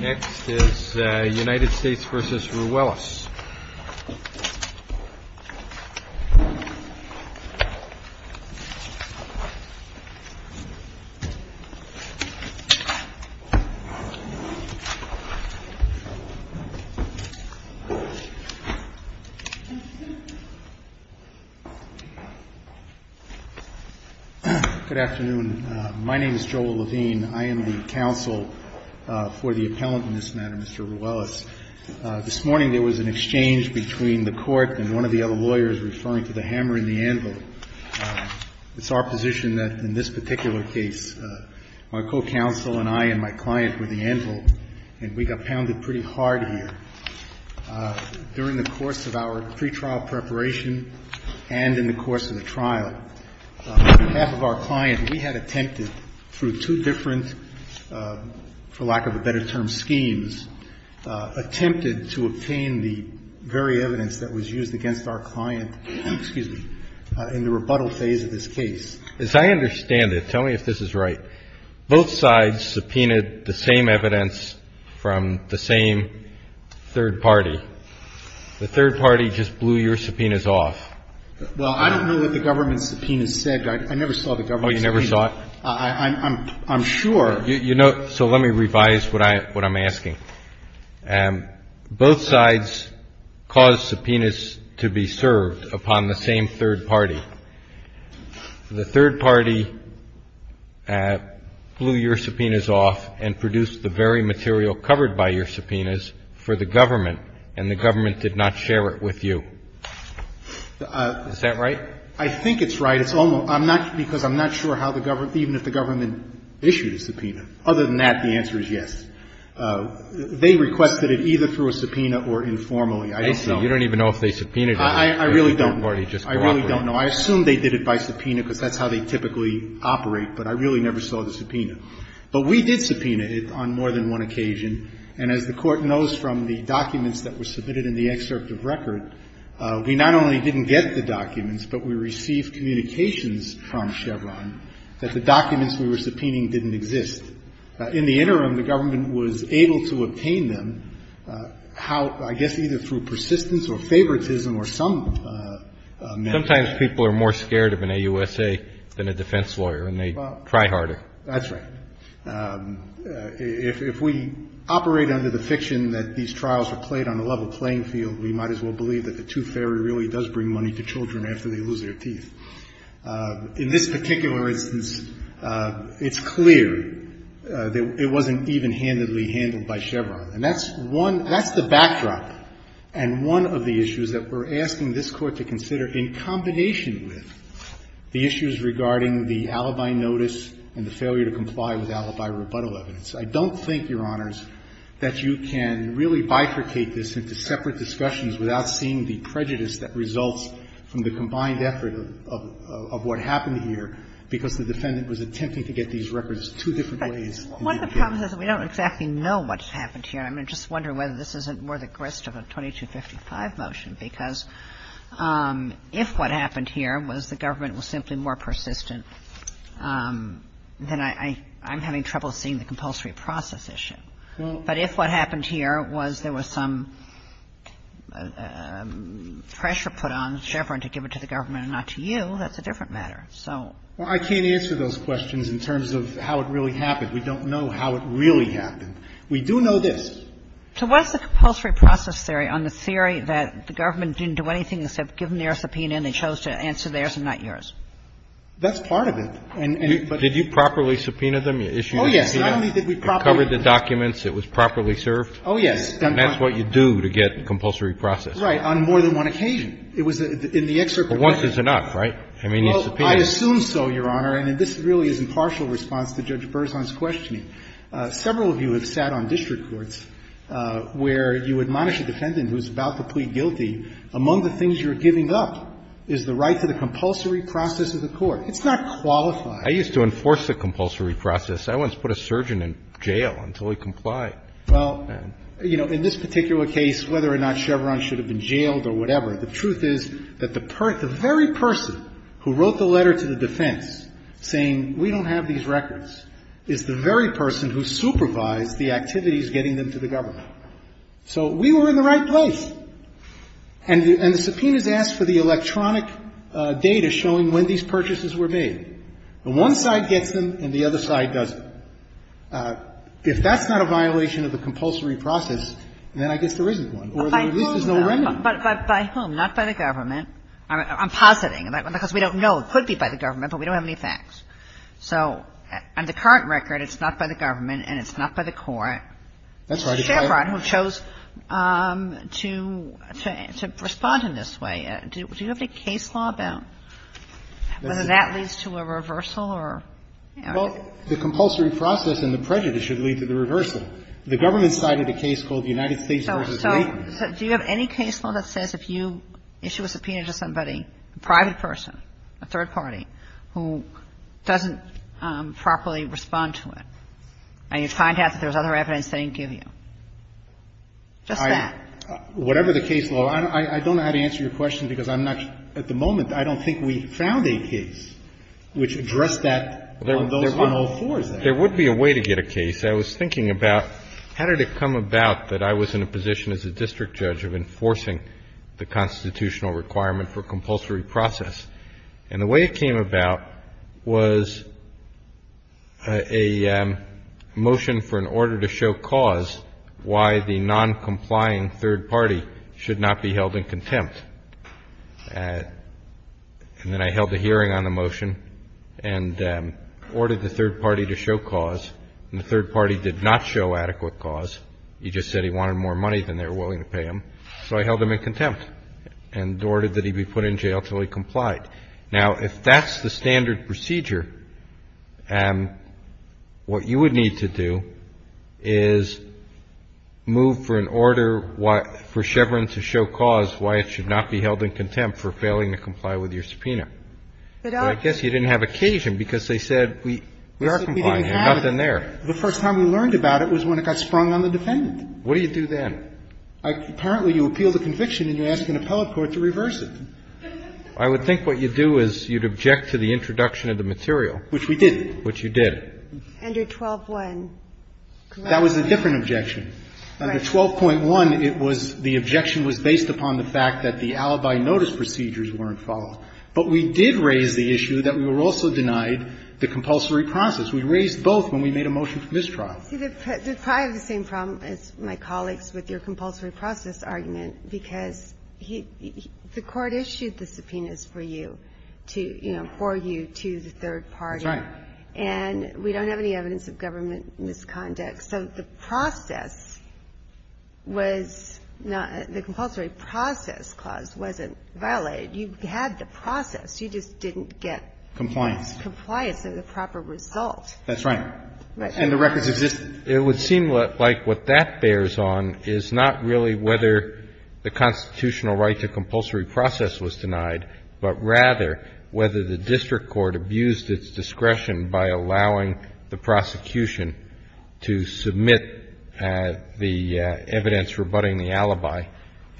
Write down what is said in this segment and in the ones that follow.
Next is United States v. Ruelas. My name is Joel Levine. I am the counsel for the appellant in this matter, Mr. Ruelas. This morning there was an exchange between the Court and one of the other lawyers referring to the hammer and the anvil. It's our position that in this particular case, my co-counsel and I and my client were the anvil, and we got pounded pretty hard here. During the course of our pretrial preparation and in the course of the trial, half of our client, we had attempted through two different, for lack of a better term, schemes, attempted to obtain the very evidence that was used against our client in the rebuttal phase of this case. As I understand it, tell me if this is right, both sides subpoenaed the same evidence from the same third party. The third party just blew your subpoenas off. Well, I don't know what the government subpoenas said. I never saw the government subpoenas. Oh, you never saw it? I'm sure. You know, so let me revise what I'm asking. Both sides caused subpoenas to be served upon the same third party. The third party blew your subpoenas off and produced the very material covered by your subpoenas for the government, and the government did not share it with you. Is that right? I think it's right. It's almost – I'm not – because I'm not sure how the government – even if the government issued a subpoena. Other than that, the answer is yes. They requested it either through a subpoena or informally. I don't know. I see. You don't even know if they subpoenaed it or if the third party just cooperated. I really don't know. I really don't know. I assume they did it by subpoena because that's how they typically operate, but I really never saw the subpoena. But we did subpoena it on more than one occasion. And as the Court knows from the documents that were submitted in the excerpt of record, we not only didn't get the documents, but we received communications from Chevron that the documents we were subpoenaing didn't exist. In the interim, the government was able to obtain them, I guess either through persistence or favoritism or some method. Sometimes people are more scared of an AUSA than a defense lawyer, and they try harder. That's right. If we operate under the fiction that these trials were played on a level playing field, we might as well believe that the tooth fairy really does bring money to children after they lose their teeth. In this particular instance, it's clear that it wasn't even-handedly handled by Chevron. And that's one — that's the backdrop and one of the issues that we're asking this Court to consider in combination with the issues regarding the alibi notice and the failure to comply with alibi rebuttal evidence. I don't think, Your Honors, that you can really bifurcate this into separate discussions without seeing the prejudice that results from the combined effort of what happened here because the defendant was attempting to get these records two different ways. One of the problems is that we don't exactly know what happened here. I mean, I just wonder whether this isn't more the grist of a 2255 motion, because if what happened here was the government was simply more persistent, then I'm having trouble seeing the compulsory process issue. But if what happened here was there was some pressure put on Chevron to give it to the government and not to you, that's a different matter. So — Well, I can't answer those questions in terms of how it really happened. We don't know how it really happened. We do know this. So what's the compulsory process theory on the theory that the government didn't do anything except give them their subpoena and they chose to answer theirs and not yours? That's part of it. Did you properly subpoena them? You issued a subpoena. Oh, yes. Not only did we properly — You covered the documents. It was properly served. Oh, yes. And that's what you do to get compulsory process. Right. On more than one occasion. It was in the excerpt — Well, once is enough, right? I mean, you subpoenaed — Well, I assume so, Your Honor. And this really is in partial response to Judge Berzon's questioning. Several of you have sat on district courts where you admonish a defendant who's about to plead guilty. Among the things you're giving up is the right to the compulsory process of the court. It's not qualified. I used to enforce the compulsory process. I once put a surgeon in jail until he complied. Well, you know, in this particular case, whether or not Chevron should have been jailed or whatever, the truth is that the very person who wrote the letter to the defense saying we don't have these records is the very person who supervised the activities getting them to the government. So we were in the right place. And the subpoenas asked for the electronic data showing when these purchases were made. The one side gets them and the other side doesn't. If that's not a violation of the compulsory process, then I guess there isn't one. Or there at least is no remedy. By whom, though? By whom? Not by the government. I'm positing. Because we don't know. It could be by the government, but we don't have any facts. So on the current record, it's not by the government and it's not by the court. That's right. It's Chevron who chose to respond in this way. Do you have any case law about whether that leads to a reversal or? Well, the compulsory process and the prejudice should lead to the reversal. The government cited a case called United States v. Dayton. So do you have any case law that says if you issue a subpoena to somebody, a private person, a third party, who doesn't properly respond to it, and you find out that there's other evidence they didn't give you? Just that. Whatever the case law, I don't know how to answer your question because I'm not at the moment, I don't think we found a case which addressed that on those 104s there. There would be a way to get a case. I was thinking about how did it come about that I was in a position as a district judge of enforcing the constitutional requirement for compulsory process. And the way it came about was a motion for an order to show cause why the noncomplying third party should not be held in contempt. And then I held a hearing on the motion and ordered the third party to show cause, and the third party did not show adequate cause. He just said he wanted more money than they were willing to pay him. So I held him in contempt and ordered that he be put in jail until he complied. Now, if that's the standard procedure, what you would need to do is move for an order for Chevron to show cause why it should not be held in contempt for failing to comply with your subpoena. But I guess you didn't have occasion because they said we are complying. You've got nothing there. The first time we learned about it was when it got sprung on the defendant. What do you do then? Apparently, you appeal the conviction and you ask an appellate court to reverse it. I would think what you do is you'd object to the introduction of the material. Which we didn't. Which you did. Under 12.1, correct? That was a different objection. Under 12.1, it was the objection was based upon the fact that the alibi notice procedures weren't followed. But we did raise the issue that we were also denied the compulsory process. We raised both when we made a motion for mistrial. See, they probably have the same problem as my colleagues with your compulsory process argument, because the Court issued the subpoenas for you to, you know, for you to the third party. That's right. And we don't have any evidence of government misconduct. So the process was not the compulsory process clause wasn't violated. You had the process. You just didn't get compliance. Compliance is the proper result. That's right. And the records exist. It would seem like what that bears on is not really whether the constitutional right to compulsory process was denied, but rather whether the district court abused its discretion by allowing the prosecution to submit the evidence rebutting the alibi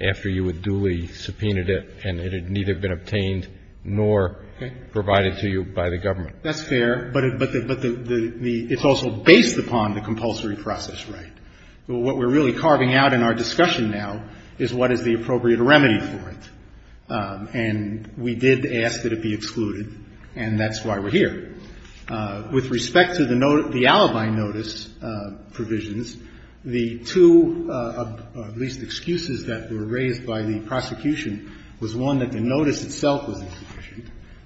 after you had duly subpoenaed it and it had neither been obtained nor provided to you by the government. That's fair, but it's also based upon the compulsory process right. What we're really carving out in our discussion now is what is the appropriate remedy for it. And we did ask that it be excluded, and that's why we're here. With respect to the alibi notice provisions, the two, at least, excuses that were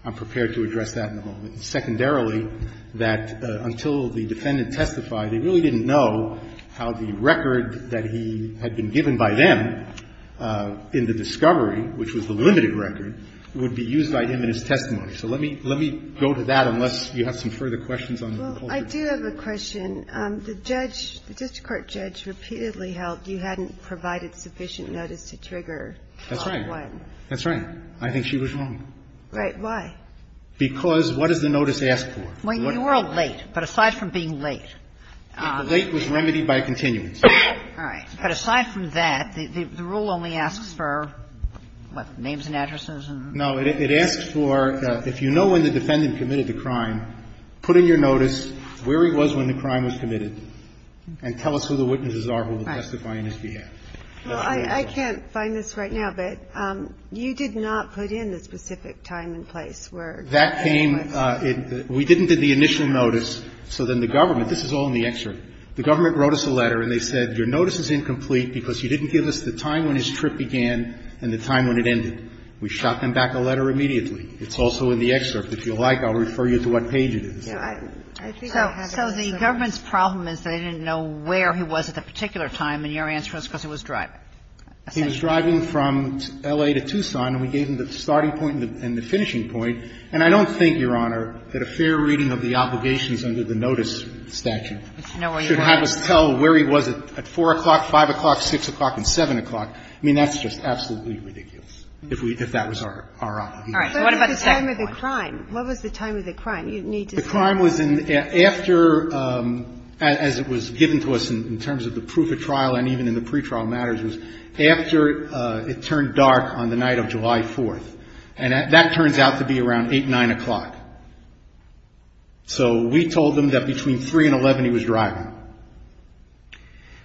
I'm prepared to address that in a moment. Secondarily, that until the defendant testified, they really didn't know how the record that he had been given by them in the discovery, which was the limited record, would be used by him in his testimony. So let me go to that unless you have some further questions on the whole thing. Well, I do have a question. The judge, the district court judge repeatedly held you hadn't provided sufficient notice to trigger. That's right. That's right. I think she was wrong. Right. Why? Because what does the notice ask for? Well, you were late. But aside from being late. The late was remedied by a continuance. All right. But aside from that, the rule only asks for, what, names and addresses? No. It asks for, if you know when the defendant committed the crime, put in your notice where he was when the crime was committed and tell us who the witnesses are who were testifying on his behalf. Well, I can't find this right now, but you did not put in the specific time and place where he was. That came, we didn't do the initial notice. So then the government, this is all in the excerpt. The government wrote us a letter and they said your notice is incomplete because you didn't give us the time when his trip began and the time when it ended. We shot them back a letter immediately. It's also in the excerpt. If you like, I'll refer you to what page it is. So the government's problem is they didn't know where he was at the particular time and your answer is because he was driving. He was driving from L.A. to Tucson and we gave him the starting point and the finishing point. And I don't think, Your Honor, that a fair reading of the obligations under the notice statute should have us tell where he was at 4 o'clock, 5 o'clock, 6 o'clock and 7 o'clock. I mean, that's just absolutely ridiculous, if we, if that was our, our honor. All right. What about the time of the crime? What was the time of the crime? You need to say. The time was in, after, as it was given to us in terms of the proof of trial and even in the pretrial matters was after it turned dark on the night of July 4th. And that turns out to be around 8, 9 o'clock. So we told them that between 3 and 11 he was driving. All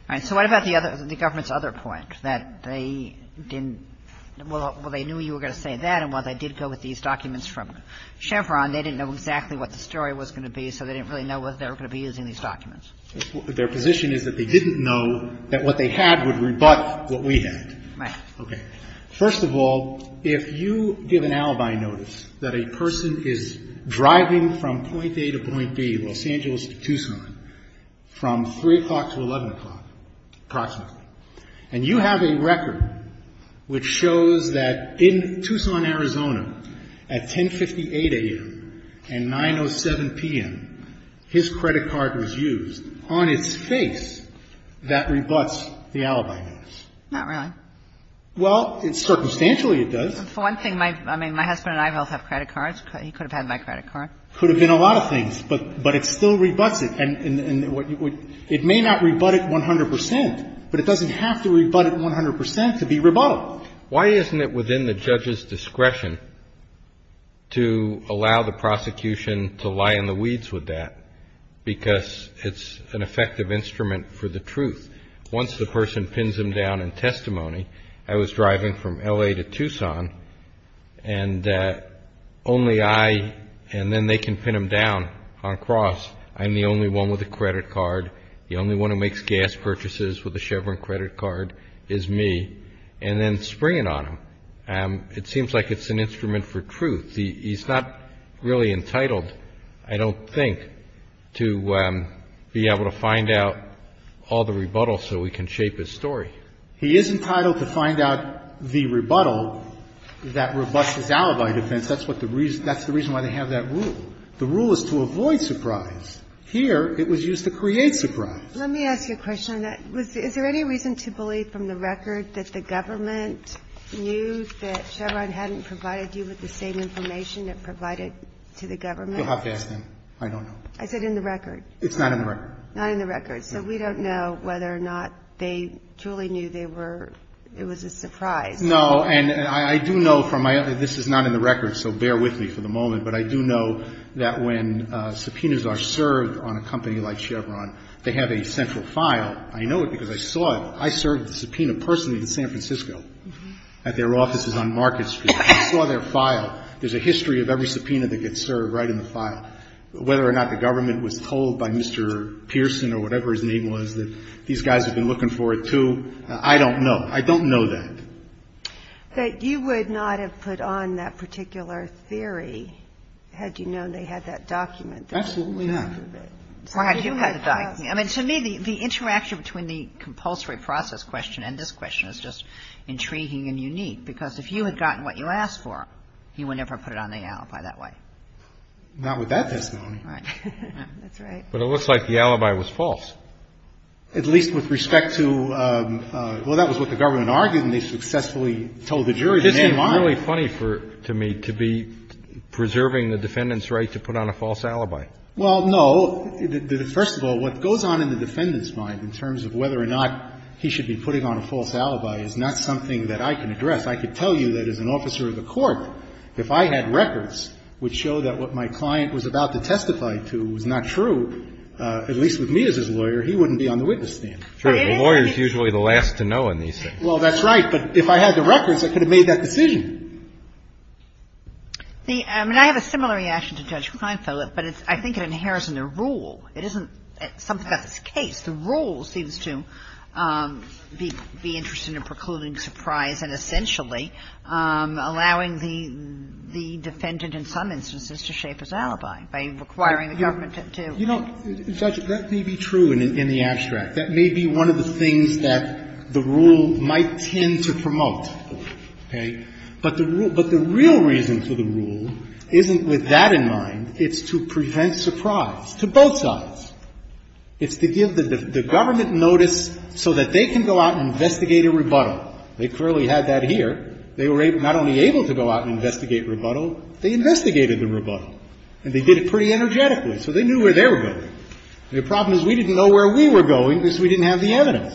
right. So what about the other, the government's other point, that they didn't, well, they knew you were going to say that and while they did go with these documents from Chevron, they didn't know exactly what the story was going to be, so they didn't really know whether they were going to be using these documents. Their position is that they didn't know that what they had would rebut what we had. Right. Okay. First of all, if you give an alibi notice that a person is driving from point A to point B, Los Angeles to Tucson, from 3 o'clock to 11 o'clock approximately, and you have a record which shows that in Tucson, Arizona, at 1058 a.m. and 907 p.m., his credit card was used on its face, that rebuts the alibi notice. Not really. Well, circumstantially it does. For one thing, my husband and I both have credit cards. He could have had my credit card. Could have been a lot of things, but it still rebuts it. It may not rebut it 100 percent, but it doesn't have to rebut it 100 percent to be rebutted. Why isn't it within the judge's discretion to allow the prosecution to lie in the weeds with that? Because it's an effective instrument for the truth. Once the person pins them down in testimony, I was driving from L.A. to Tucson, and only I, and then they can pin them down on cross. I'm the only one with a credit card. The only one who makes gas purchases with a Chevron credit card is me, and then spring it on him. It seems like it's an instrument for truth. He's not really entitled, I don't think, to be able to find out all the rebuttals so we can shape his story. He is entitled to find out the rebuttal that rebuts his alibi defense. That's the reason why they have that rule. The rule is to avoid surprise. Here, it was used to create surprise. Let me ask you a question on that. Is there any reason to believe from the record that the government knew that Chevron hadn't provided you with the same information it provided to the government? You'll have to ask them. I don't know. Is it in the record? It's not in the record. Not in the record. So we don't know whether or not they truly knew they were – it was a surprise. No, and I do know from my – this is not in the record, so bear with me for the moment, but I do know that when subpoenas are served on a company like Chevron, they have a central file. I know it because I saw it. I served the subpoena personally in San Francisco at their offices on Market Street. I saw their file. There's a history of every subpoena that gets served right in the file. Whether or not the government was told by Mr. Pearson or whatever his name was that these guys have been looking for it, too, I don't know. I don't know that. That you would not have put on that particular theory had you known they had that document. Absolutely not. Or had you had the document. I mean, to me, the interaction between the compulsory process question and this question is just intriguing and unique because if you had gotten what you asked for, you would never have put it on the alibi that way. Not with that testimony. Right. That's right. But it looks like the alibi was false. At least with respect to, well, that was what the government argued and they successfully told the jury the name was. This is really funny to me, to be preserving the defendant's right to put on a false alibi. Well, no. First of all, what goes on in the defendant's mind in terms of whether or not he should be putting on a false alibi is not something that I can address. I could tell you that as an officer of the court, if I had records which show that what my client was about to testify to was not true, at least with me as his lawyer, he wouldn't be on the witness stand. Sure. The lawyer is usually the last to know on these things. Well, that's right. But if I had the records, I could have made that decision. I mean, I have a similar reaction to Judge Kleinfeld, but I think it inheres in the rule. It isn't something that's the case. The rule seems to be interested in precluding surprise and essentially allowing the defendant in some instances to shape his alibi by requiring the government to. You know, Judge, that may be true in the abstract. That may be one of the things that the rule might tend to promote, okay? But the real reason for the rule isn't with that in mind. It's to prevent surprise to both sides. It's to give the government notice so that they can go out and investigate a rebuttal. They clearly had that here. They were not only able to go out and investigate rebuttal. They investigated the rebuttal. And they did it pretty energetically. So they knew where they were going. The problem is we didn't know where we were going because we didn't have the evidence.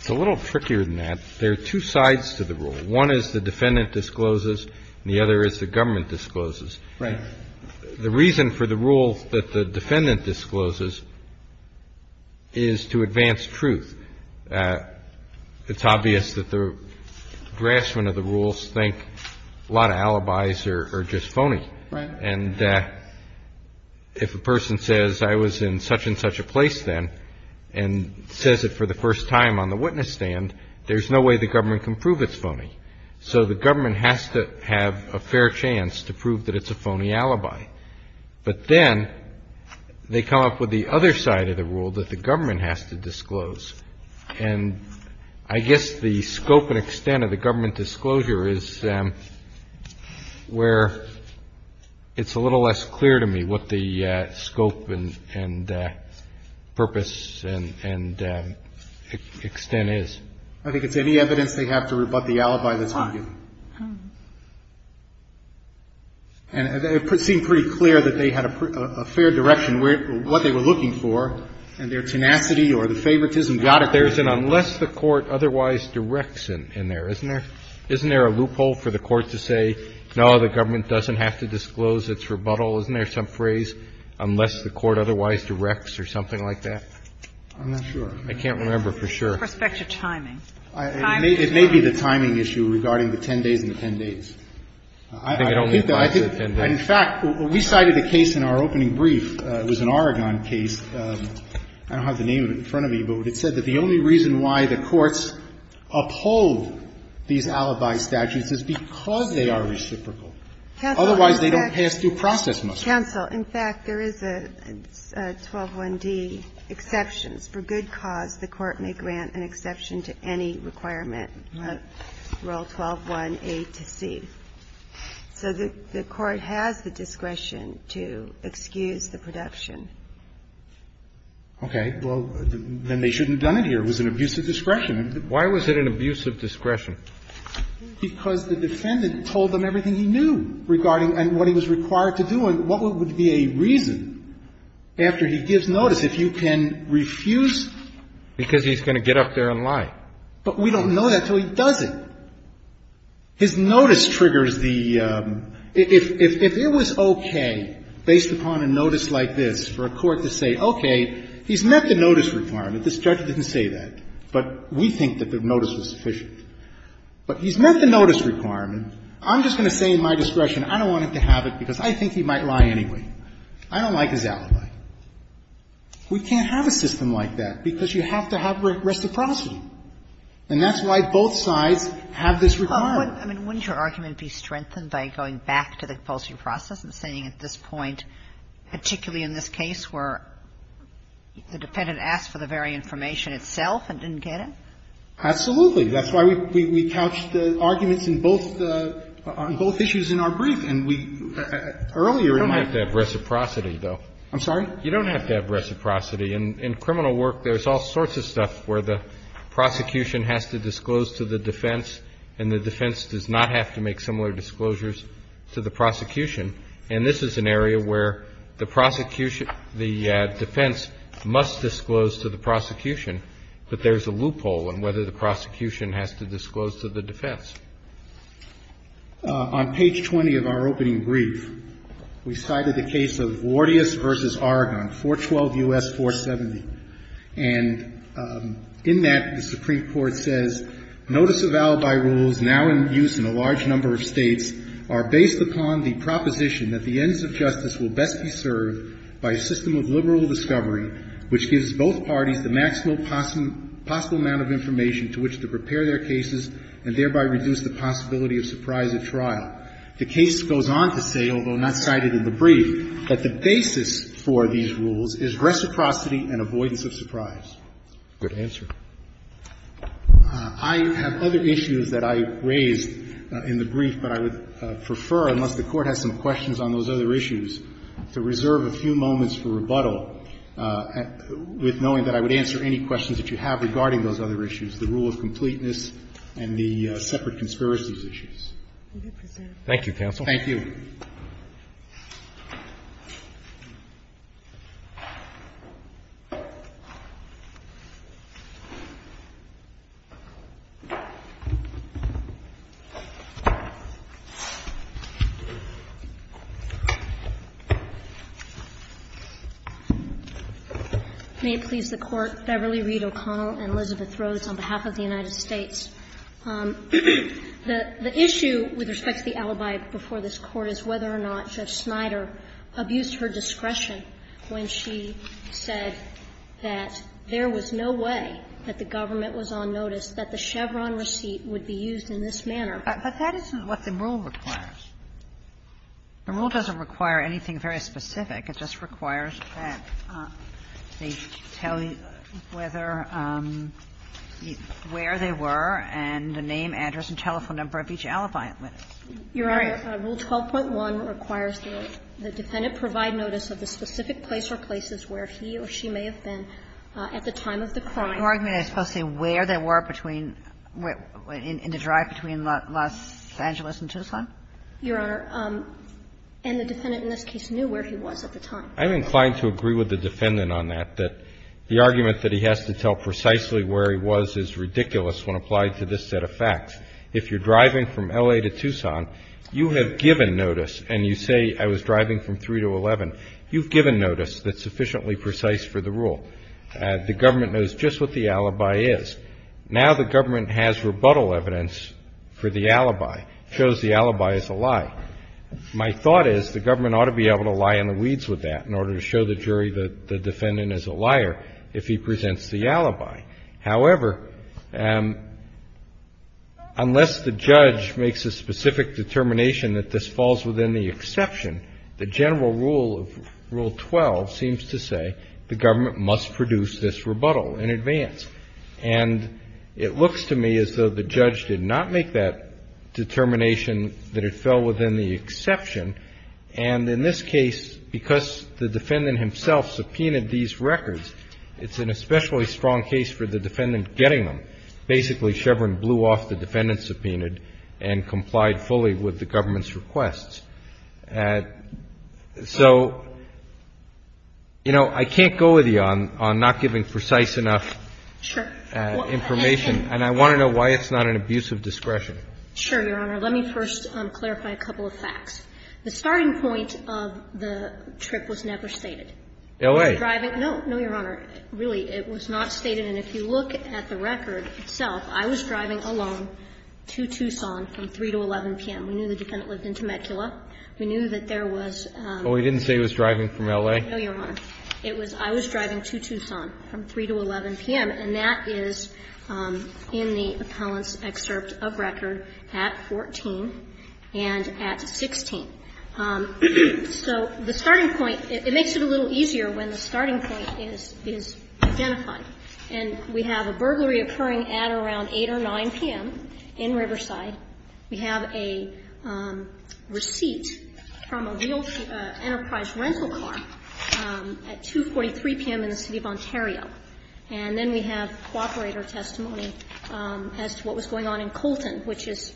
It's a little trickier than that. There are two sides to the rule. One is the defendant discloses and the other is the government discloses. Right. The reason for the rule that the defendant discloses is to advance truth. It's obvious that the graspment of the rules think a lot of alibis are just phony. Right. And if a person says, I was in such and such a place then, and says it for the first time on the witness stand, there's no way the government can prove it's phony. So the government has to have a fair chance to prove that it's a phony alibi. But then they come up with the other side of the rule that the government has to disclose. And I guess the scope and extent of the government disclosure is where it's a little less clear to me what the scope and purpose and extent is. I think it's any evidence they have to rebut the alibi that's been given. And it seemed pretty clear that they had a fair direction, what they were looking for, and their tenacity or the favoritism. Got it. There's an unless the court otherwise directs in there, isn't there? Isn't there a loophole for the court to say, no, the government doesn't have to disclose its rebuttal? Isn't there some phrase, unless the court otherwise directs or something like that? I'm not sure. I can't remember for sure. Prospective timing. It may be the timing issue regarding the ten days and the ten days. I think that, in fact, we cited a case in our opening brief. It was an Oregon case. I don't have the name in front of me, but it said that the only reason why the courts uphold these alibi statutes is because they are reciprocal. Otherwise, they don't pass due process muster. Counsel, in fact, there is a 121D, exceptions. For good cause, the court may grant an exception to any requirement. Roll 12-1A to C. So the court has the discretion to excuse the production. Okay. Well, then they shouldn't have done it here. It was an abuse of discretion. Why was it an abuse of discretion? Because the defendant told them everything he knew regarding what he was required to do. Now, what would be a reason after he gives notice if you can refuse? Because he's going to get up there and lie. But we don't know that until he does it. His notice triggers the ‑‑ if it was okay based upon a notice like this for a court to say, okay, he's met the notice requirement. This judge didn't say that. But we think that the notice was sufficient. But he's met the notice requirement. I'm just going to say in my discretion, I don't want him to have it because I think he might lie anyway. I don't like his alibi. We can't have a system like that because you have to have reciprocity. And that's why both sides have this requirement. I mean, wouldn't your argument be strengthened by going back to the compulsory process and saying at this point, particularly in this case where the defendant asked for the very information itself and didn't get it? Absolutely. That's why we couched the arguments in both the ‑‑ on both issues in our brief. And we ‑‑ You don't have to have reciprocity, though. I'm sorry? You don't have to have reciprocity. In criminal work, there's all sorts of stuff where the prosecution has to disclose to the defense and the defense does not have to make similar disclosures to the prosecution. And this is an area where the prosecution ‑‑ the defense must disclose to the prosecution, but there's a loophole in whether the prosecution has to disclose to the defense. On page 20 of our opening brief, we cited the case of Vordius v. Oregon, 412 U.S. 470. And in that, the Supreme Court says, Notice of alibi rules now in use in a large number of states are based upon the proposition that the ends of justice will best be served by a system of liberal discovery, which gives both parties the maximum possible amount of information to which to prepare their cases and thereby reduce the possibility of surprise at trial. The case goes on to say, although not cited in the brief, that the basis for these rules is reciprocity and avoidance of surprise. Good answer. I have other issues that I raised in the brief, but I would prefer, unless the Court has some questions on those other issues, to reserve a few moments for rebuttal with knowing that I would answer any questions that you have regarding those other issues, the rule of completeness and the separate conspiracies issues. Thank you, counsel. May it please the Court. Beverly Reed O'Connell and Elizabeth Rhodes on behalf of the United States. The issue with respect to the alibi before this Court is whether or not Judge Snyder abused her discretion when she said that there was no way that the government was on notice that the Chevron receipt would be used in this manner. But that isn't what the rule requires. The rule doesn't require anything very specific. It just requires that they tell you whether, where they were, and the name, address and telephone number of each alibi. Your Honor, Rule 12.1 requires that the defendant provide notice of the specific place or places where he or she may have been at the time of the crime. Are you arguing I'm supposed to say where they were between, in the drive between Los Angeles and Tucson? Your Honor, and the defendant in this case knew where he was at the time. I'm inclined to agree with the defendant on that, that the argument that he has to tell precisely where he was is ridiculous when applied to this set of facts. If you're driving from L.A. to Tucson, you have given notice, and you say I was driving from 3 to 11. You've given notice that's sufficiently precise for the rule. The government knows just what the alibi is. Now the government has rebuttal evidence for the alibi. It shows the alibi is a lie. My thought is the government ought to be able to lie in the weeds with that in order to show the jury that the defendant is a liar if he presents the alibi. However, unless the judge makes a specific determination that this falls within the exception, the general rule of Rule 12 seems to say the government must produce this rebuttal in advance. And it looks to me as though the judge did not make that determination that it fell within the exception. And in this case, because the defendant himself subpoenaed these records, it's an especially strong case for the defendant getting them. Basically, Chevron blew off the defendant subpoenaed and complied fully with the government's requests. So, you know, I can't go with you on not giving precise enough information. And I want to know why it's not an abuse of discretion. Sure, Your Honor. Let me first clarify a couple of facts. The starting point of the trip was never stated. LA. No, no, Your Honor. Really, it was not stated. And if you look at the record itself, I was driving alone to Tucson from 3 to 11 p.m. We knew the defendant lived in Temecula. We knew that there was a ---- Well, we didn't say he was driving from LA. No, Your Honor. It was I was driving to Tucson from 3 to 11 p.m., and that is in the appellant's excerpt of record at 14 and at 16. So the starting point, it makes it a little easier when the starting point is identified. And we have a burglary occurring at around 8 or 9 p.m. in Riverside. We have a receipt from a real enterprise rental car at 2.43 p.m. in the City of Ontario. And then we have cooperator testimony as to what was going on in Colton, which is,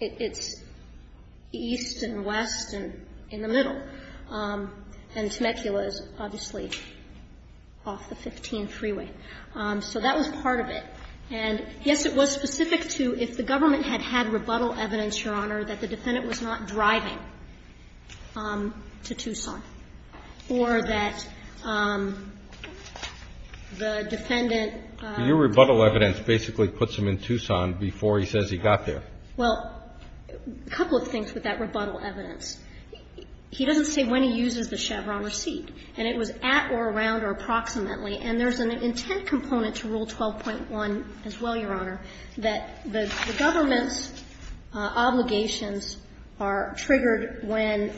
it's east and west and in the middle. And Temecula is obviously off the 15 freeway. So that was part of it. And, yes, it was specific to if the government had had rebuttal evidence, Your Honor, that the defendant was not driving to Tucson or that the defendant ---- Your rebuttal evidence basically puts him in Tucson before he says he got there. Well, a couple of things with that rebuttal evidence. He doesn't say when he uses the Chevron receipt. And it was at or around or approximately. And there's an intent component to Rule 12.1 as well, Your Honor, that the government's obligations are triggered when ----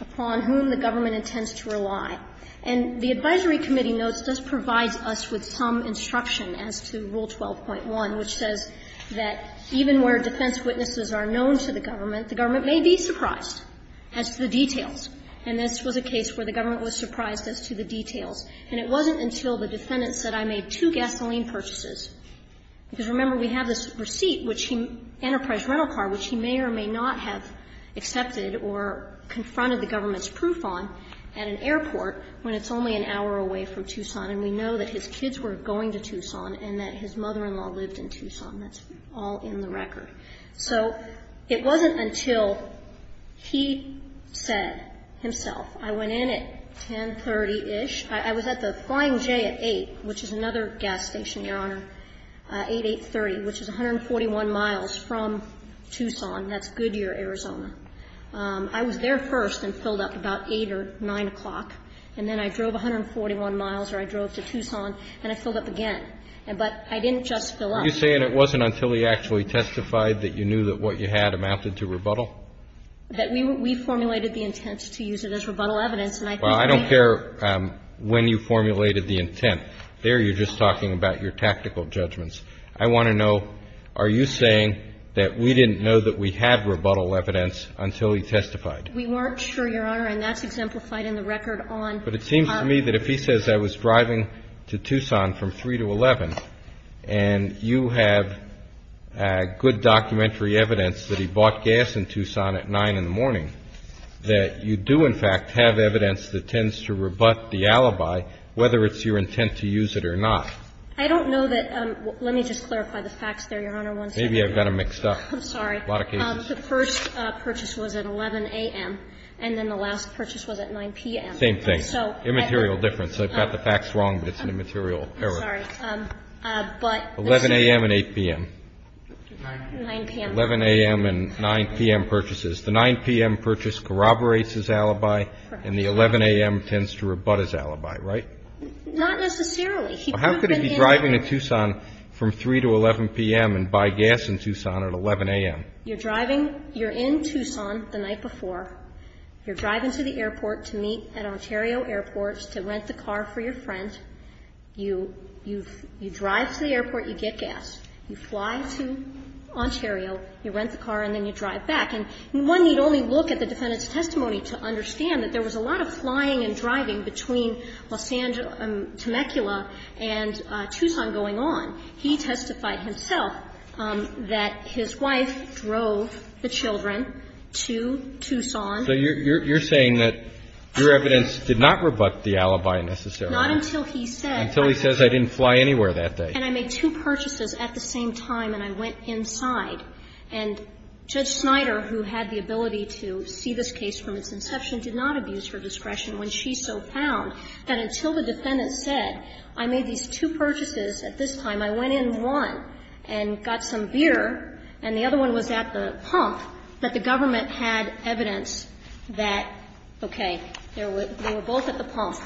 upon whom the government intends to rely. And the advisory committee notes this provides us with some instruction as to Rule 12.1, which says that even where defense witnesses are known to the government, the government may be surprised as to the details. And this was a case where the government was surprised as to the details. And it wasn't until the defendant said, I made two gasoline purchases. Because, remember, we have this receipt, which he ---- Enterprise rental car, which he may or may not have accepted or confronted the government's proof on at an airport when it's only an hour away from Tucson, and we know that his kids were going to Tucson and that his mother-in-law lived in Tucson. That's all in the record. So it wasn't until he said himself, I went in at 10.30ish. I was at the Flying J at 8, which is another gas station, Your Honor. 8.830, which is 141 miles from Tucson. That's Goodyear, Arizona. I was there first and filled up about 8 or 9 o'clock. And then I drove 141 miles, or I drove to Tucson, and I filled up again. But I didn't just fill up. You're saying it wasn't until he actually testified that you knew that what you had amounted to rebuttal? That we formulated the intent to use it as rebuttal evidence, and I think we ---- Well, there, when you formulated the intent, there you're just talking about your tactical judgments. I want to know, are you saying that we didn't know that we had rebuttal evidence until he testified? We weren't sure, Your Honor, and that's exemplified in the record on ---- But it seems to me that if he says I was driving to Tucson from 3 to 11 and you have good documentary evidence that he bought gas in Tucson at 9 in the morning, that you do in fact have evidence that tends to rebut the alibi, whether it's your intent to use it or not. I don't know that ---- Let me just clarify the facts there, Your Honor. Maybe I've got them mixed up. I'm sorry. A lot of cases. The first purchase was at 11 a.m., and then the last purchase was at 9 p.m. Same thing. So ---- Immaterial difference. I've got the facts wrong, but it's an immaterial error. I'm sorry. But ---- 11 a.m. and 8 p.m. 9 p.m. 11 a.m. and 9 p.m. purchases. The 9 p.m. purchase corroborates his alibi, and the 11 a.m. tends to rebut his alibi, right? Not necessarily. How could he be driving to Tucson from 3 to 11 p.m. and buy gas in Tucson at 11 a.m.? You're driving. You're in Tucson the night before. You're driving to the airport to meet at Ontario Airports to rent the car for your friend. You drive to the airport. You get gas. You fly to Ontario. You rent the car, and then you drive back. And one need only look at the defendant's testimony to understand that there was a lot of flying and driving between Los Angeles and Temecula and Tucson going on. He testified himself that his wife drove the children to Tucson. So you're saying that your evidence did not rebut the alibi necessarily. Not until he said. Until he says, I didn't fly anywhere that day. And I made two purchases at the same time, and I went inside. And Judge Snyder, who had the ability to see this case from its inception, did not abuse her discretion when she so found that until the defendant said, I made these two purchases at this time, I went in one and got some beer, and the other one was at the pump, that the government had evidence that, okay, they were both at the pump.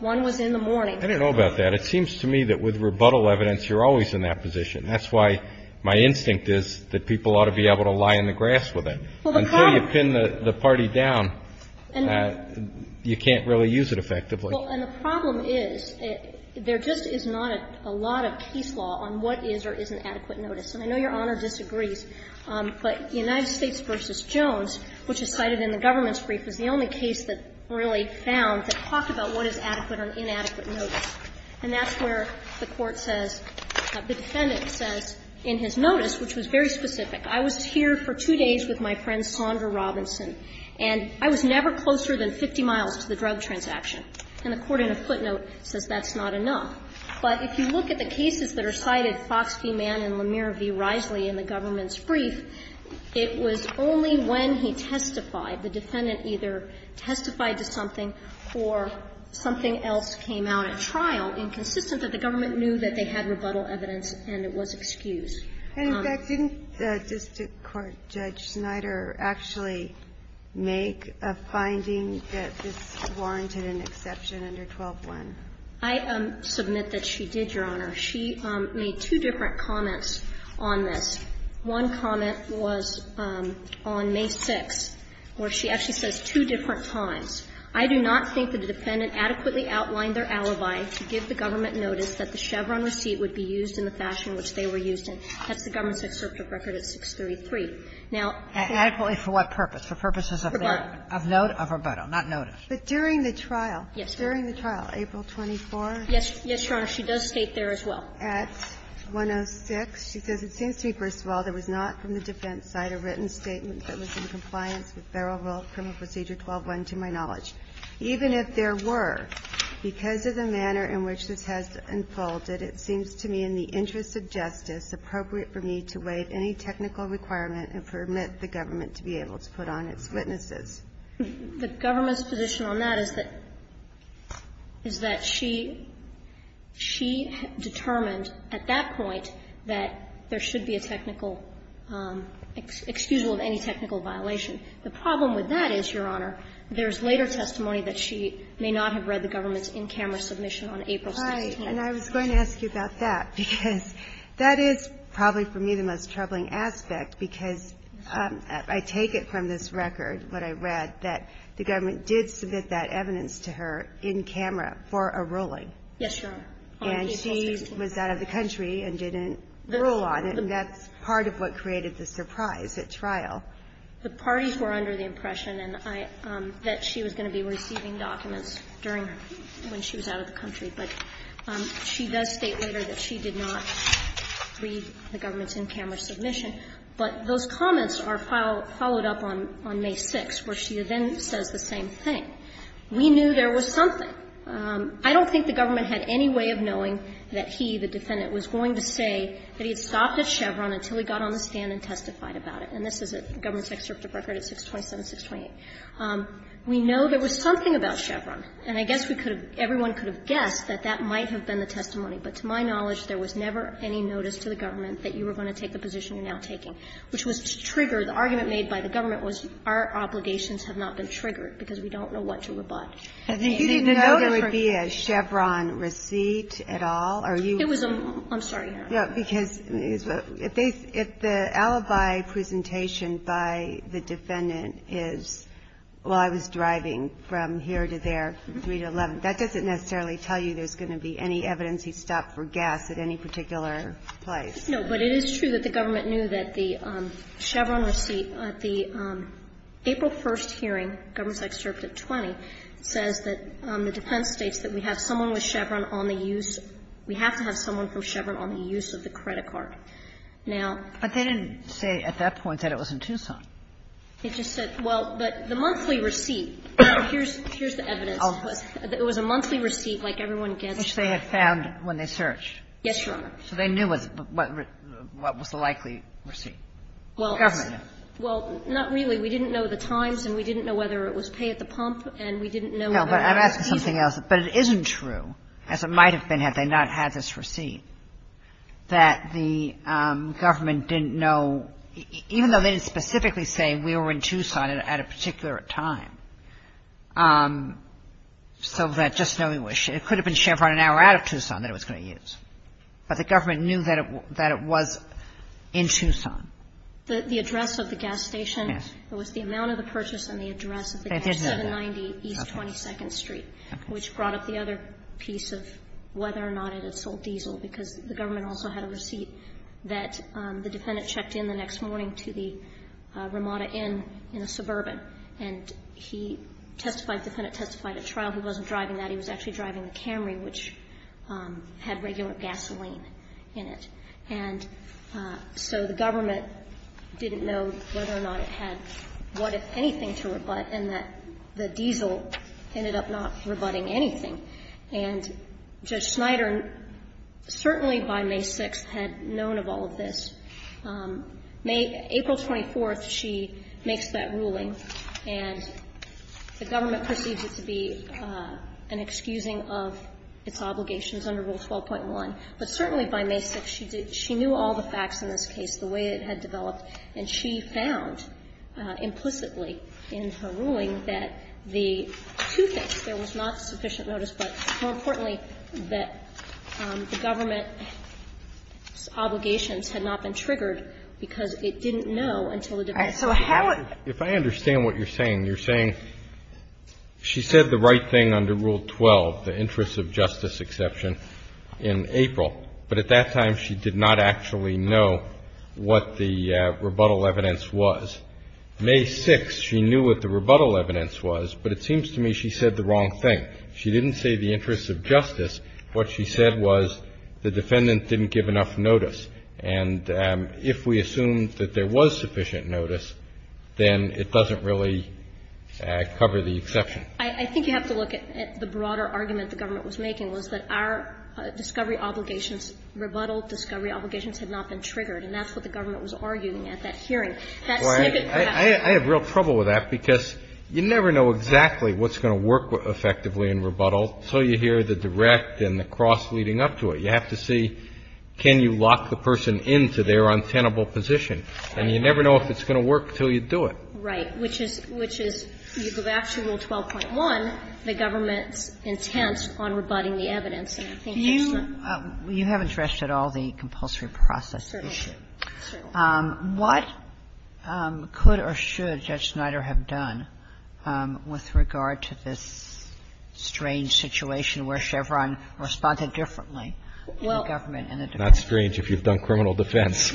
One was in the morning. I don't know about that. It seems to me that with rebuttal evidence, you're always in that position. That's why my instinct is that people ought to be able to lie in the grass with it. Until you pin the party down, you can't really use it effectively. Well, and the problem is there just is not a lot of case law on what is or isn't adequate notice. And I know Your Honor disagrees, but United States v. Jones, which is cited in the government's brief, is the only case that really found that talked about what is adequate or inadequate notice. And that's where the Court says, the defendant says in his notice, which was very specific, I was here for two days with my friend Sondra Robinson, and I was never closer than 50 miles to the drug transaction. And the Court in a footnote says that's not enough. But if you look at the cases that are cited, Fox v. Mann and Lemire v. Risley in the government's brief, it was only when he testified, the defendant either testified to something or something else came out at trial, inconsistent that the government knew that they had rebuttal evidence and it was excused. And didn't the district court, Judge Snyder, actually make a finding that this warranted an exception under 12-1? I submit that she did, Your Honor. She made two different comments on this. One comment was on May 6th, where she actually says two different times. I do not think that the defendant adequately outlined their alibi to give the government notice that the Chevron receipt would be used in the fashion which they were used in. That's the government's excerpt of record at 633. Now, I think that's the case. Kagan for what purpose? For purposes of what? Of note, of rebuttal, not notice. But during the trial, during the trial, April 24th? Yes, Your Honor, she does state there as well. At 106, she says, It seems to me, first of all, there was not from the defense side a written statement that was in compliance with Federal Rule of Criminal Procedure 12-1, to my knowledge. Even if there were, because of the manner in which this has unfolded, it seems to me in the interest of justice appropriate for me to waive any technical requirement and permit the government to be able to put on its witnesses. The government's position on that is that she determined at that point that there should be a technical excusable of any technical violation. The problem with that is, Your Honor, there's later testimony that she may not have read the government's in-camera submission on April 16th. And I was going to ask you about that, because that is probably for me the most troubling aspect, because I take it from this record, what I read, that the government did submit that evidence to her in camera for a ruling. Yes, Your Honor. And she was out of the country and didn't rule on it. And that's part of what created the surprise at trial. The parties were under the impression that she was going to be receiving documents during her – when she was out of the country. But she does state later that she did not read the government's in-camera submission. But those comments are followed up on May 6th, where she then says the same thing. We knew there was something. I don't think the government had any way of knowing that he, the defendant, was going to say that he had stopped at Chevron until he got on the stand and testified about it. And this is a government's excerpt of record at 627-628. We know there was something about Chevron. And I guess we could have – everyone could have guessed that that might have been the testimony. But to my knowledge, there was never any notice to the government that you were going to take the position you're now taking, which was triggered. The argument made by the government was our obligations have not been triggered because we don't know what to rebut. And they didn't know that for her. And you didn't know there would be a Chevron receipt at all? Are you – It was a – I'm sorry, Your Honor. Yeah, because if they – if the alibi presentation by the defendant is, well, I was driving from here to there, 3 to 11, that doesn't necessarily tell you there's going to be any evidence he stopped for gas at any particular place. No, but it is true that the government knew that the Chevron receipt at the April 1st hearing, government's excerpt at 20, says that the defense states that we have someone with Chevron on the use – we have to have someone from Chevron on the use of the credit card. Now – But they didn't say at that point that it was in Tucson. It just said – well, but the monthly receipt – here's the evidence. It was a monthly receipt like everyone gets. Which they had found when they searched. Yes, Your Honor. So they knew what was the likely receipt. Well, not really. We didn't know the times, and we didn't know whether it was pay at the pump, and we didn't know whether it was fees. No, but I'm asking something else. But it isn't true, as it might have been had they not had this receipt, that the we were in Tucson at a particular time, so that just knowing where Chevron – it could have been Chevron an hour out of Tucson that it was going to use. But the government knew that it was in Tucson. The address of the gas station was the amount of the purchase and the address of the gas station, 790 East 22nd Street, which brought up the other piece of whether or not it had sold diesel, because the government also had a receipt that the defendant had checked in the next morning to the Ramada Inn in a suburban. And he testified – the defendant testified at trial. He wasn't driving that. He was actually driving the Camry, which had regular gasoline in it. And so the government didn't know whether or not it had what, if anything, to rebut, and that the diesel ended up not rebutting anything. And Judge Snyder, certainly by May 6th, had known of all of this. April 24th, she makes that ruling, and the government perceives it to be an excusing of its obligations under Rule 12.1. But certainly by May 6th, she knew all the facts in this case, the way it had developed. And she found, implicitly in her ruling, that the two things, there was not sufficient notice, but more importantly, that the government's obligations had not been triggered because it didn't know until the defense had done it. If I understand what you're saying, you're saying she said the right thing under Rule 12, the interest of justice exception, in April, but at that time she did not actually know what the rebuttal evidence was. May 6th, she knew what the rebuttal evidence was, but it seems to me she said the wrong thing. She didn't say the interest of justice. What she said was the defendant didn't give enough notice. And if we assume that there was sufficient notice, then it doesn't really cover the exception. I think you have to look at the broader argument the government was making was that our discovery obligations, rebuttal discovery obligations, had not been triggered. And that's what the government was arguing at that hearing. That snippet perhaps. I have real trouble with that because you never know exactly what's going to work effectively in rebuttal until you hear the direct and the cross leading up to it. You have to see can you lock the person into their untenable position. And you never know if it's going to work until you do it. Right. Which is you go back to Rule 12.1, the government's intent on rebutting the evidence. And I think that's not. Do you – you haven't addressed at all the compulsory process issue. Certainly. Certainly. What could or should Judge Snyder have done with regard to this strange situation where Chevron responded differently to the government and the defense? Well, it's not strange if you've done criminal defense.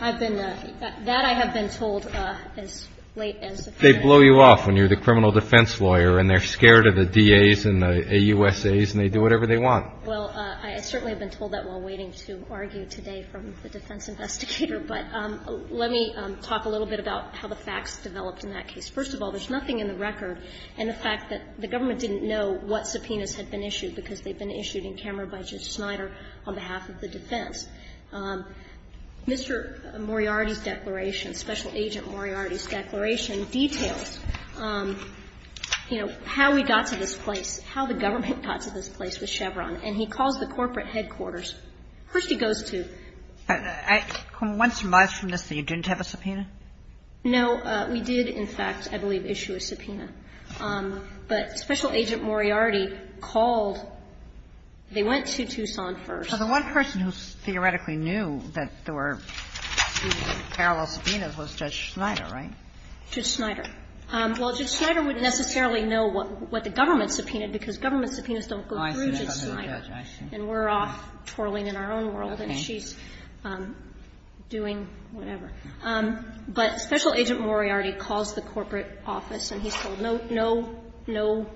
I've been – that I have been told as late as the first day. They blow you off when you're the criminal defense lawyer and they're scared of the DAs and the AUSAs and they do whatever they want. Well, I certainly have been told that while waiting to argue today from the defense investigator. But let me talk a little bit about how the facts developed in that case. First of all, there's nothing in the record in the fact that the government didn't know what subpoenas had been issued because they'd been issued in camera by Judge Snyder on behalf of the defense. Mr. Moriarty's declaration, Special Agent Moriarty's declaration details, you know, how we got to this place, how the government got to this place with Chevron. And he calls the corporate headquarters. He goes to the headquarters. Hearstie goes to. Once you're miles from this, you didn't have a subpoena? No. We did, in fact, I believe, issue a subpoena. But Special Agent Moriarty called. They went to Tucson first. So the one person who theoretically knew that there were two parallel subpoenas was Judge Snyder, right? Judge Snyder. Well, Judge Snyder wouldn't necessarily know what the government subpoenaed because government subpoenas don't go through Judge Snyder. And we're off twirling in our own world and she's doing whatever. But Special Agent Moriarty calls the corporate office and he's told no, no, no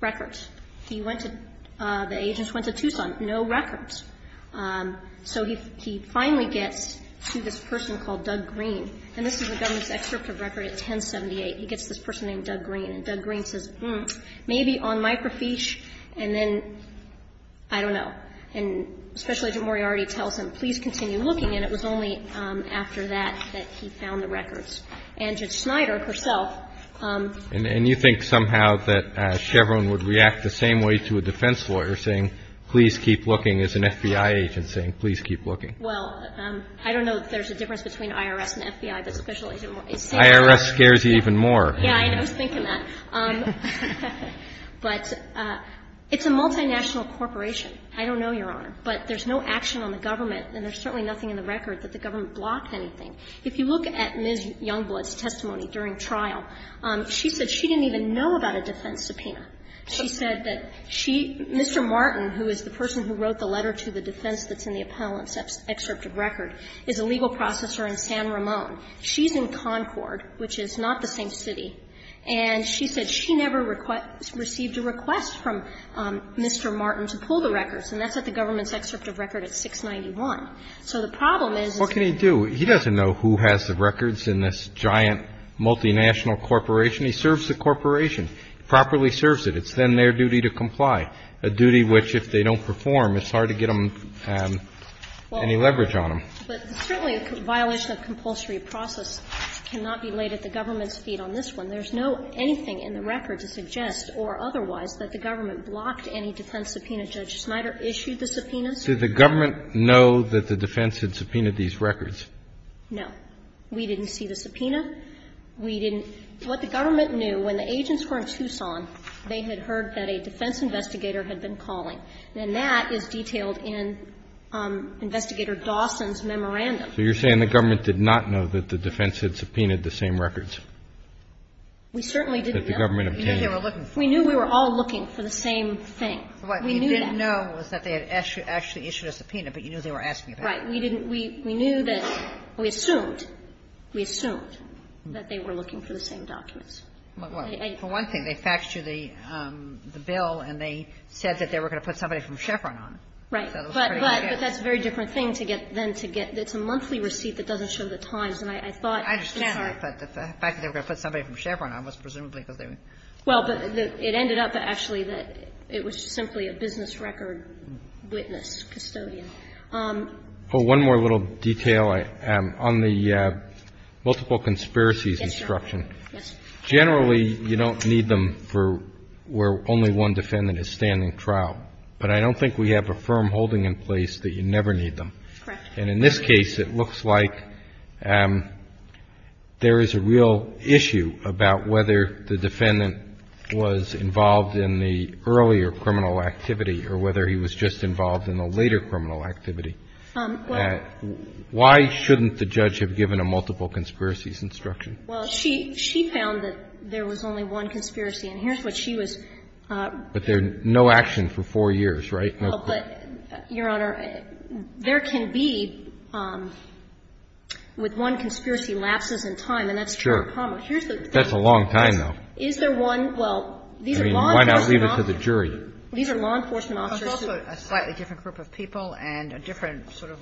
records. He went to, the agents went to Tucson, no records. So he finally gets to this person called Doug Green. And this is the government's excerpt of record at 1078. He gets this person named Doug Green. And Doug Green says, hmm, maybe on microfiche and then, I don't know. And Special Agent Moriarty tells him, please continue looking. And it was only after that that he found the records. And Judge Snyder herself. And you think somehow that Chevron would react the same way to a defense lawyer saying, please keep looking, as an FBI agent saying, please keep looking. Well, I don't know if there's a difference between IRS and FBI, but Special Agent Moriarty is saying that. IRS scares you even more. Yeah, I was thinking that. But it's a multinational corporation. I don't know, Your Honor, but there's no action on the government, and there's certainly nothing in the record that the government blocked anything. If you look at Ms. Youngblood's testimony during trial, she said she didn't even know about a defense subpoena. She said that she, Mr. Martin, who is the person who wrote the letter to the defense that's in the appellant's excerpt of record, is a legal processor in San Ramon. She's in Concord, which is not the same city, and she said she never requested or received a request from Mr. Martin to pull the records, and that's at the government's excerpt of record at 691. So the problem is that he doesn't know who has the records in this giant multinational corporation. He serves the corporation, properly serves it. It's then their duty to comply, a duty which, if they don't perform, it's hard to get them any leverage on them. But certainly a violation of compulsory process cannot be laid at the government's feet on this one. There's no anything in the record to suggest or otherwise that the government blocked any defense subpoena. Judge Snyder issued the subpoenas. Did the government know that the defense had subpoenaed these records? No. We didn't see the subpoena. We didn't – what the government knew, when the agents were in Tucson, they had heard that a defense investigator had been calling. And that is detailed in Investigator Dawson's memorandum. So you're saying the government did not know that the defense had subpoenaed the same records? We certainly didn't know. That the government obtained. We knew they were looking for the same thing. What we didn't know was that they had actually issued a subpoena, but you knew they were asking about it. Right. We didn't – we knew that – we assumed, we assumed that they were looking for the same documents. For one thing, they faxed you the bill and they said that they were going to put somebody from Chevron on it. Right. But that's a very different thing to get – than to get – it's a monthly receipt that doesn't show the times. And I thought – I understand that. But the fact that they were going to put somebody from Chevron on was presumably because they were – Well, but it ended up actually that it was simply a business record witness, custodian. Well, one more little detail on the multiple conspiracies instruction. Yes, Your Honor. Generally, you don't need them for where only one defendant is standing trial. But I don't think we have a firm holding in place that you never need them. Correct. And in this case, it looks like there is a real issue about whether the defendant was involved in the earlier criminal activity or whether he was just involved in the later criminal activity. Why shouldn't the judge have given a multiple conspiracies instruction? Well, she found that there was only one conspiracy. And here's what she was – But there's no action for four years, right? No. But, Your Honor, there can be, with one conspiracy, lapses in time. And that's true. Sure. Here's the thing. That's a long time, though. Is there one? Well, these are law enforcement officers. I mean, why not leave it to the jury? These are law enforcement officers. It's also a slightly different group of people and a different sort of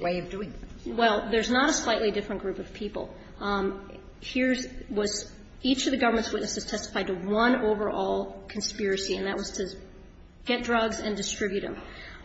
way of doing things. Well, there's not a slightly different group of people. Here's – was each of the government's witnesses testified to one overall conspiracy, and that was to get drugs and distribute them.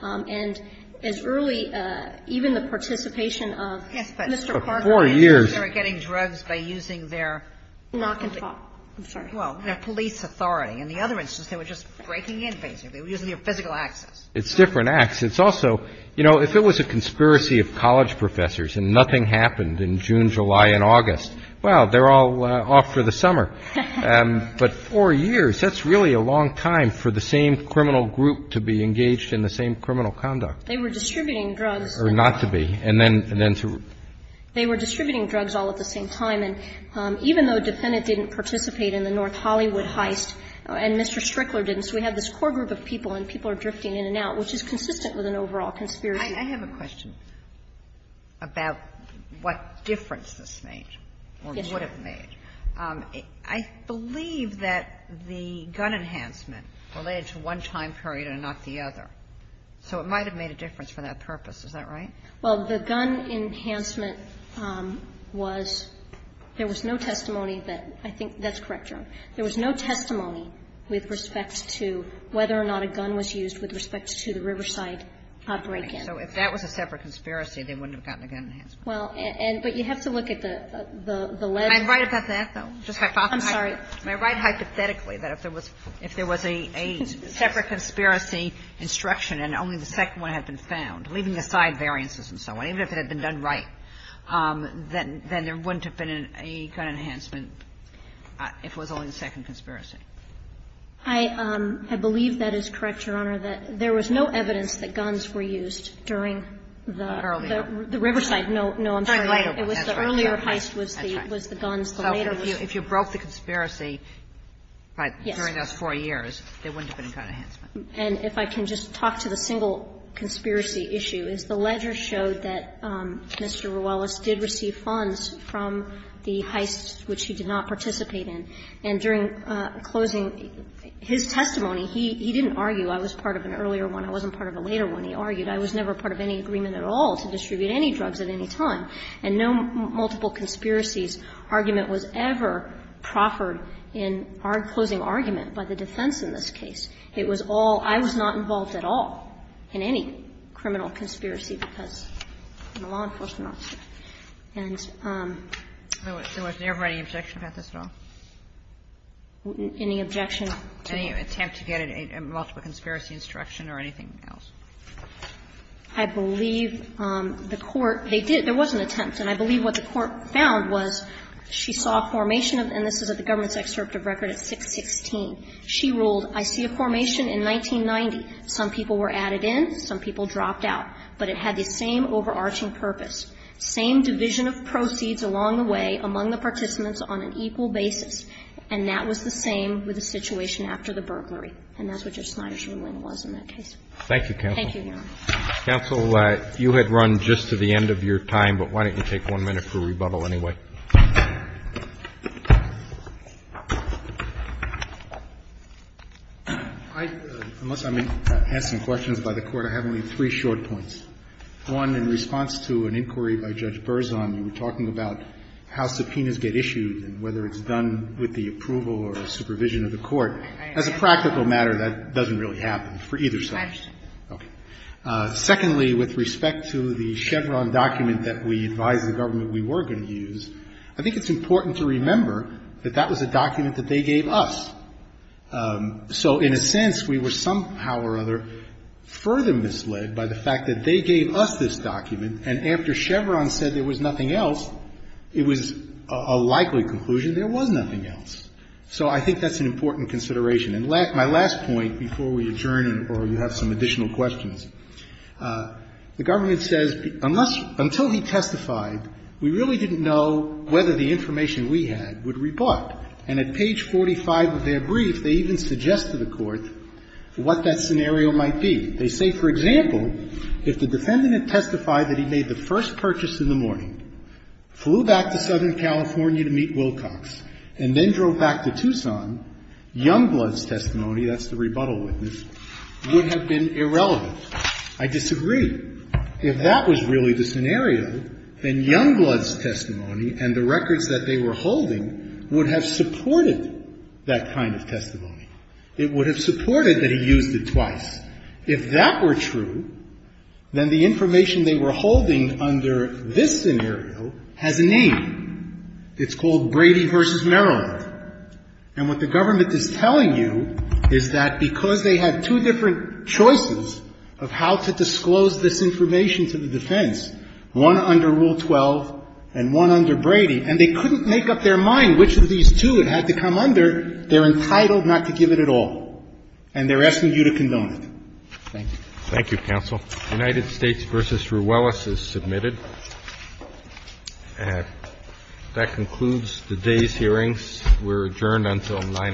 And as early – even the participation of Mr. Parker and others were getting drugs by using their – Yes, but for four years – I'm sorry. Well, their police authority. In the other instance, they were just breaking in, basically. They were using their physical access. It's different acts. It's also – you know, if it was a conspiracy of college professors and nothing happened in June, July, and August, well, they're all off for the summer. But four years, that's really a long time for the same criminal group to be engaged in the same criminal conduct. They were distributing drugs. Or not to be. And then to – They were distributing drugs all at the same time. And even though a defendant didn't participate in the North Hollywood heist, and Mr. Strickler didn't, so we have this core group of people, and people are drifting in and out, which is consistent with an overall conspiracy. I have a question about what difference this made or would have made. I believe that the gun enhancement related to one time period and not the other. So it might have made a difference for that purpose. Is that right? Well, the gun enhancement was – there was no testimony that – I think that's correct, Your Honor. There was no testimony with respect to whether or not a gun was used with respect to the Riverside break-in. So if that was a separate conspiracy, they wouldn't have gotten a gun enhancement. Well, and – but you have to look at the legislation. Am I right about that, though? Just hypothesize. I'm sorry. Am I right hypothetically that if there was a separate conspiracy instruction and only the second one had been found, leaving aside variances and so on, even if it had been done right, then there wouldn't have been a gun enhancement if it was only the second conspiracy? I believe that is correct, Your Honor, that there was no evidence that guns were used during the – the Riverside – no, no, I'm sorry. It was the earlier heist was the guns, the later was the guns. So if you broke the conspiracy during those four years, there wouldn't have been a gun enhancement. And if I can just talk to the single conspiracy issue, is the ledger showed that Mr. Ruelas did receive funds from the heist which he did not participate in. And during closing his testimony, he didn't argue I was part of an earlier one. I wasn't part of a later one, he argued. I was never part of any agreement at all to distribute any drugs at any time. And no multiple conspiracies argument was ever proffered in our closing argument by the defense in this case. It was all – I was not involved at all in any criminal conspiracy because the law enforcement officer. And so was there ever any objection about this at all? Any objection to the law? Any attempt to get a multiple conspiracy instruction or anything else? I believe the Court – they did – there was an attempt. And I believe what the Court found was she saw a formation of – and this is at the government's excerpt of record at 616. She ruled, I see a formation in 1990. Some people were added in, some people dropped out. But it had the same overarching purpose, same division of proceeds along the way among the participants on an equal basis. And that was the same with the situation after the burglary. And that's what Judge Snyder's ruling was in that case. Thank you, Counsel. Thank you, Your Honor. Counsel, you had run just to the end of your time, but why don't you take one minute for rebuttal anyway? I – unless I may ask some questions by the Court, I have only three short points. One, in response to an inquiry by Judge Berzon, you were talking about how subpoenas get issued and whether it's done with the approval or supervision of the Court. As a practical matter, that doesn't really happen for either side. I understand. Okay. Secondly, with respect to the Chevron document that we advised the government we were going to use, I think it's important to remember that that was a document that they gave us. So in a sense, we were somehow or other further misled by the fact that they gave us this document, and after Chevron said there was nothing else, it was a likely conclusion there was nothing else. So I think that's an important consideration. And my last point before we adjourn or you have some additional questions, the government says, until he testified, we really didn't know whether the information we had would rebut, and at page 45 of their brief, they even suggest to the Court what that scenario might be. They say, for example, if the defendant had testified that he made the first purchase in the morning, flew back to Southern California to meet Wilcox, and then drove back to Tucson, Youngblood's testimony, that's the rebuttal witness, would have been irrelevant. I disagree. If that was really the scenario, then Youngblood's testimony and the records that they were holding would have supported that kind of testimony. It would have supported that he used it twice. If that were true, then the information they were holding under this scenario has a name. It's called Brady v. Maryland. And what the government is telling you is that because they had two different choices of how to disclose this information to the defense, one under Rule 12 and one under Brady, and they couldn't make up their mind which of these two it had to come under, they're entitled not to give it at all, and they're asking you to condone it. Thank you. Roberts. Thank you, counsel. United States v. Ruelas is submitted. That concludes today's hearings. We're adjourned until 9 a.m. tomorrow.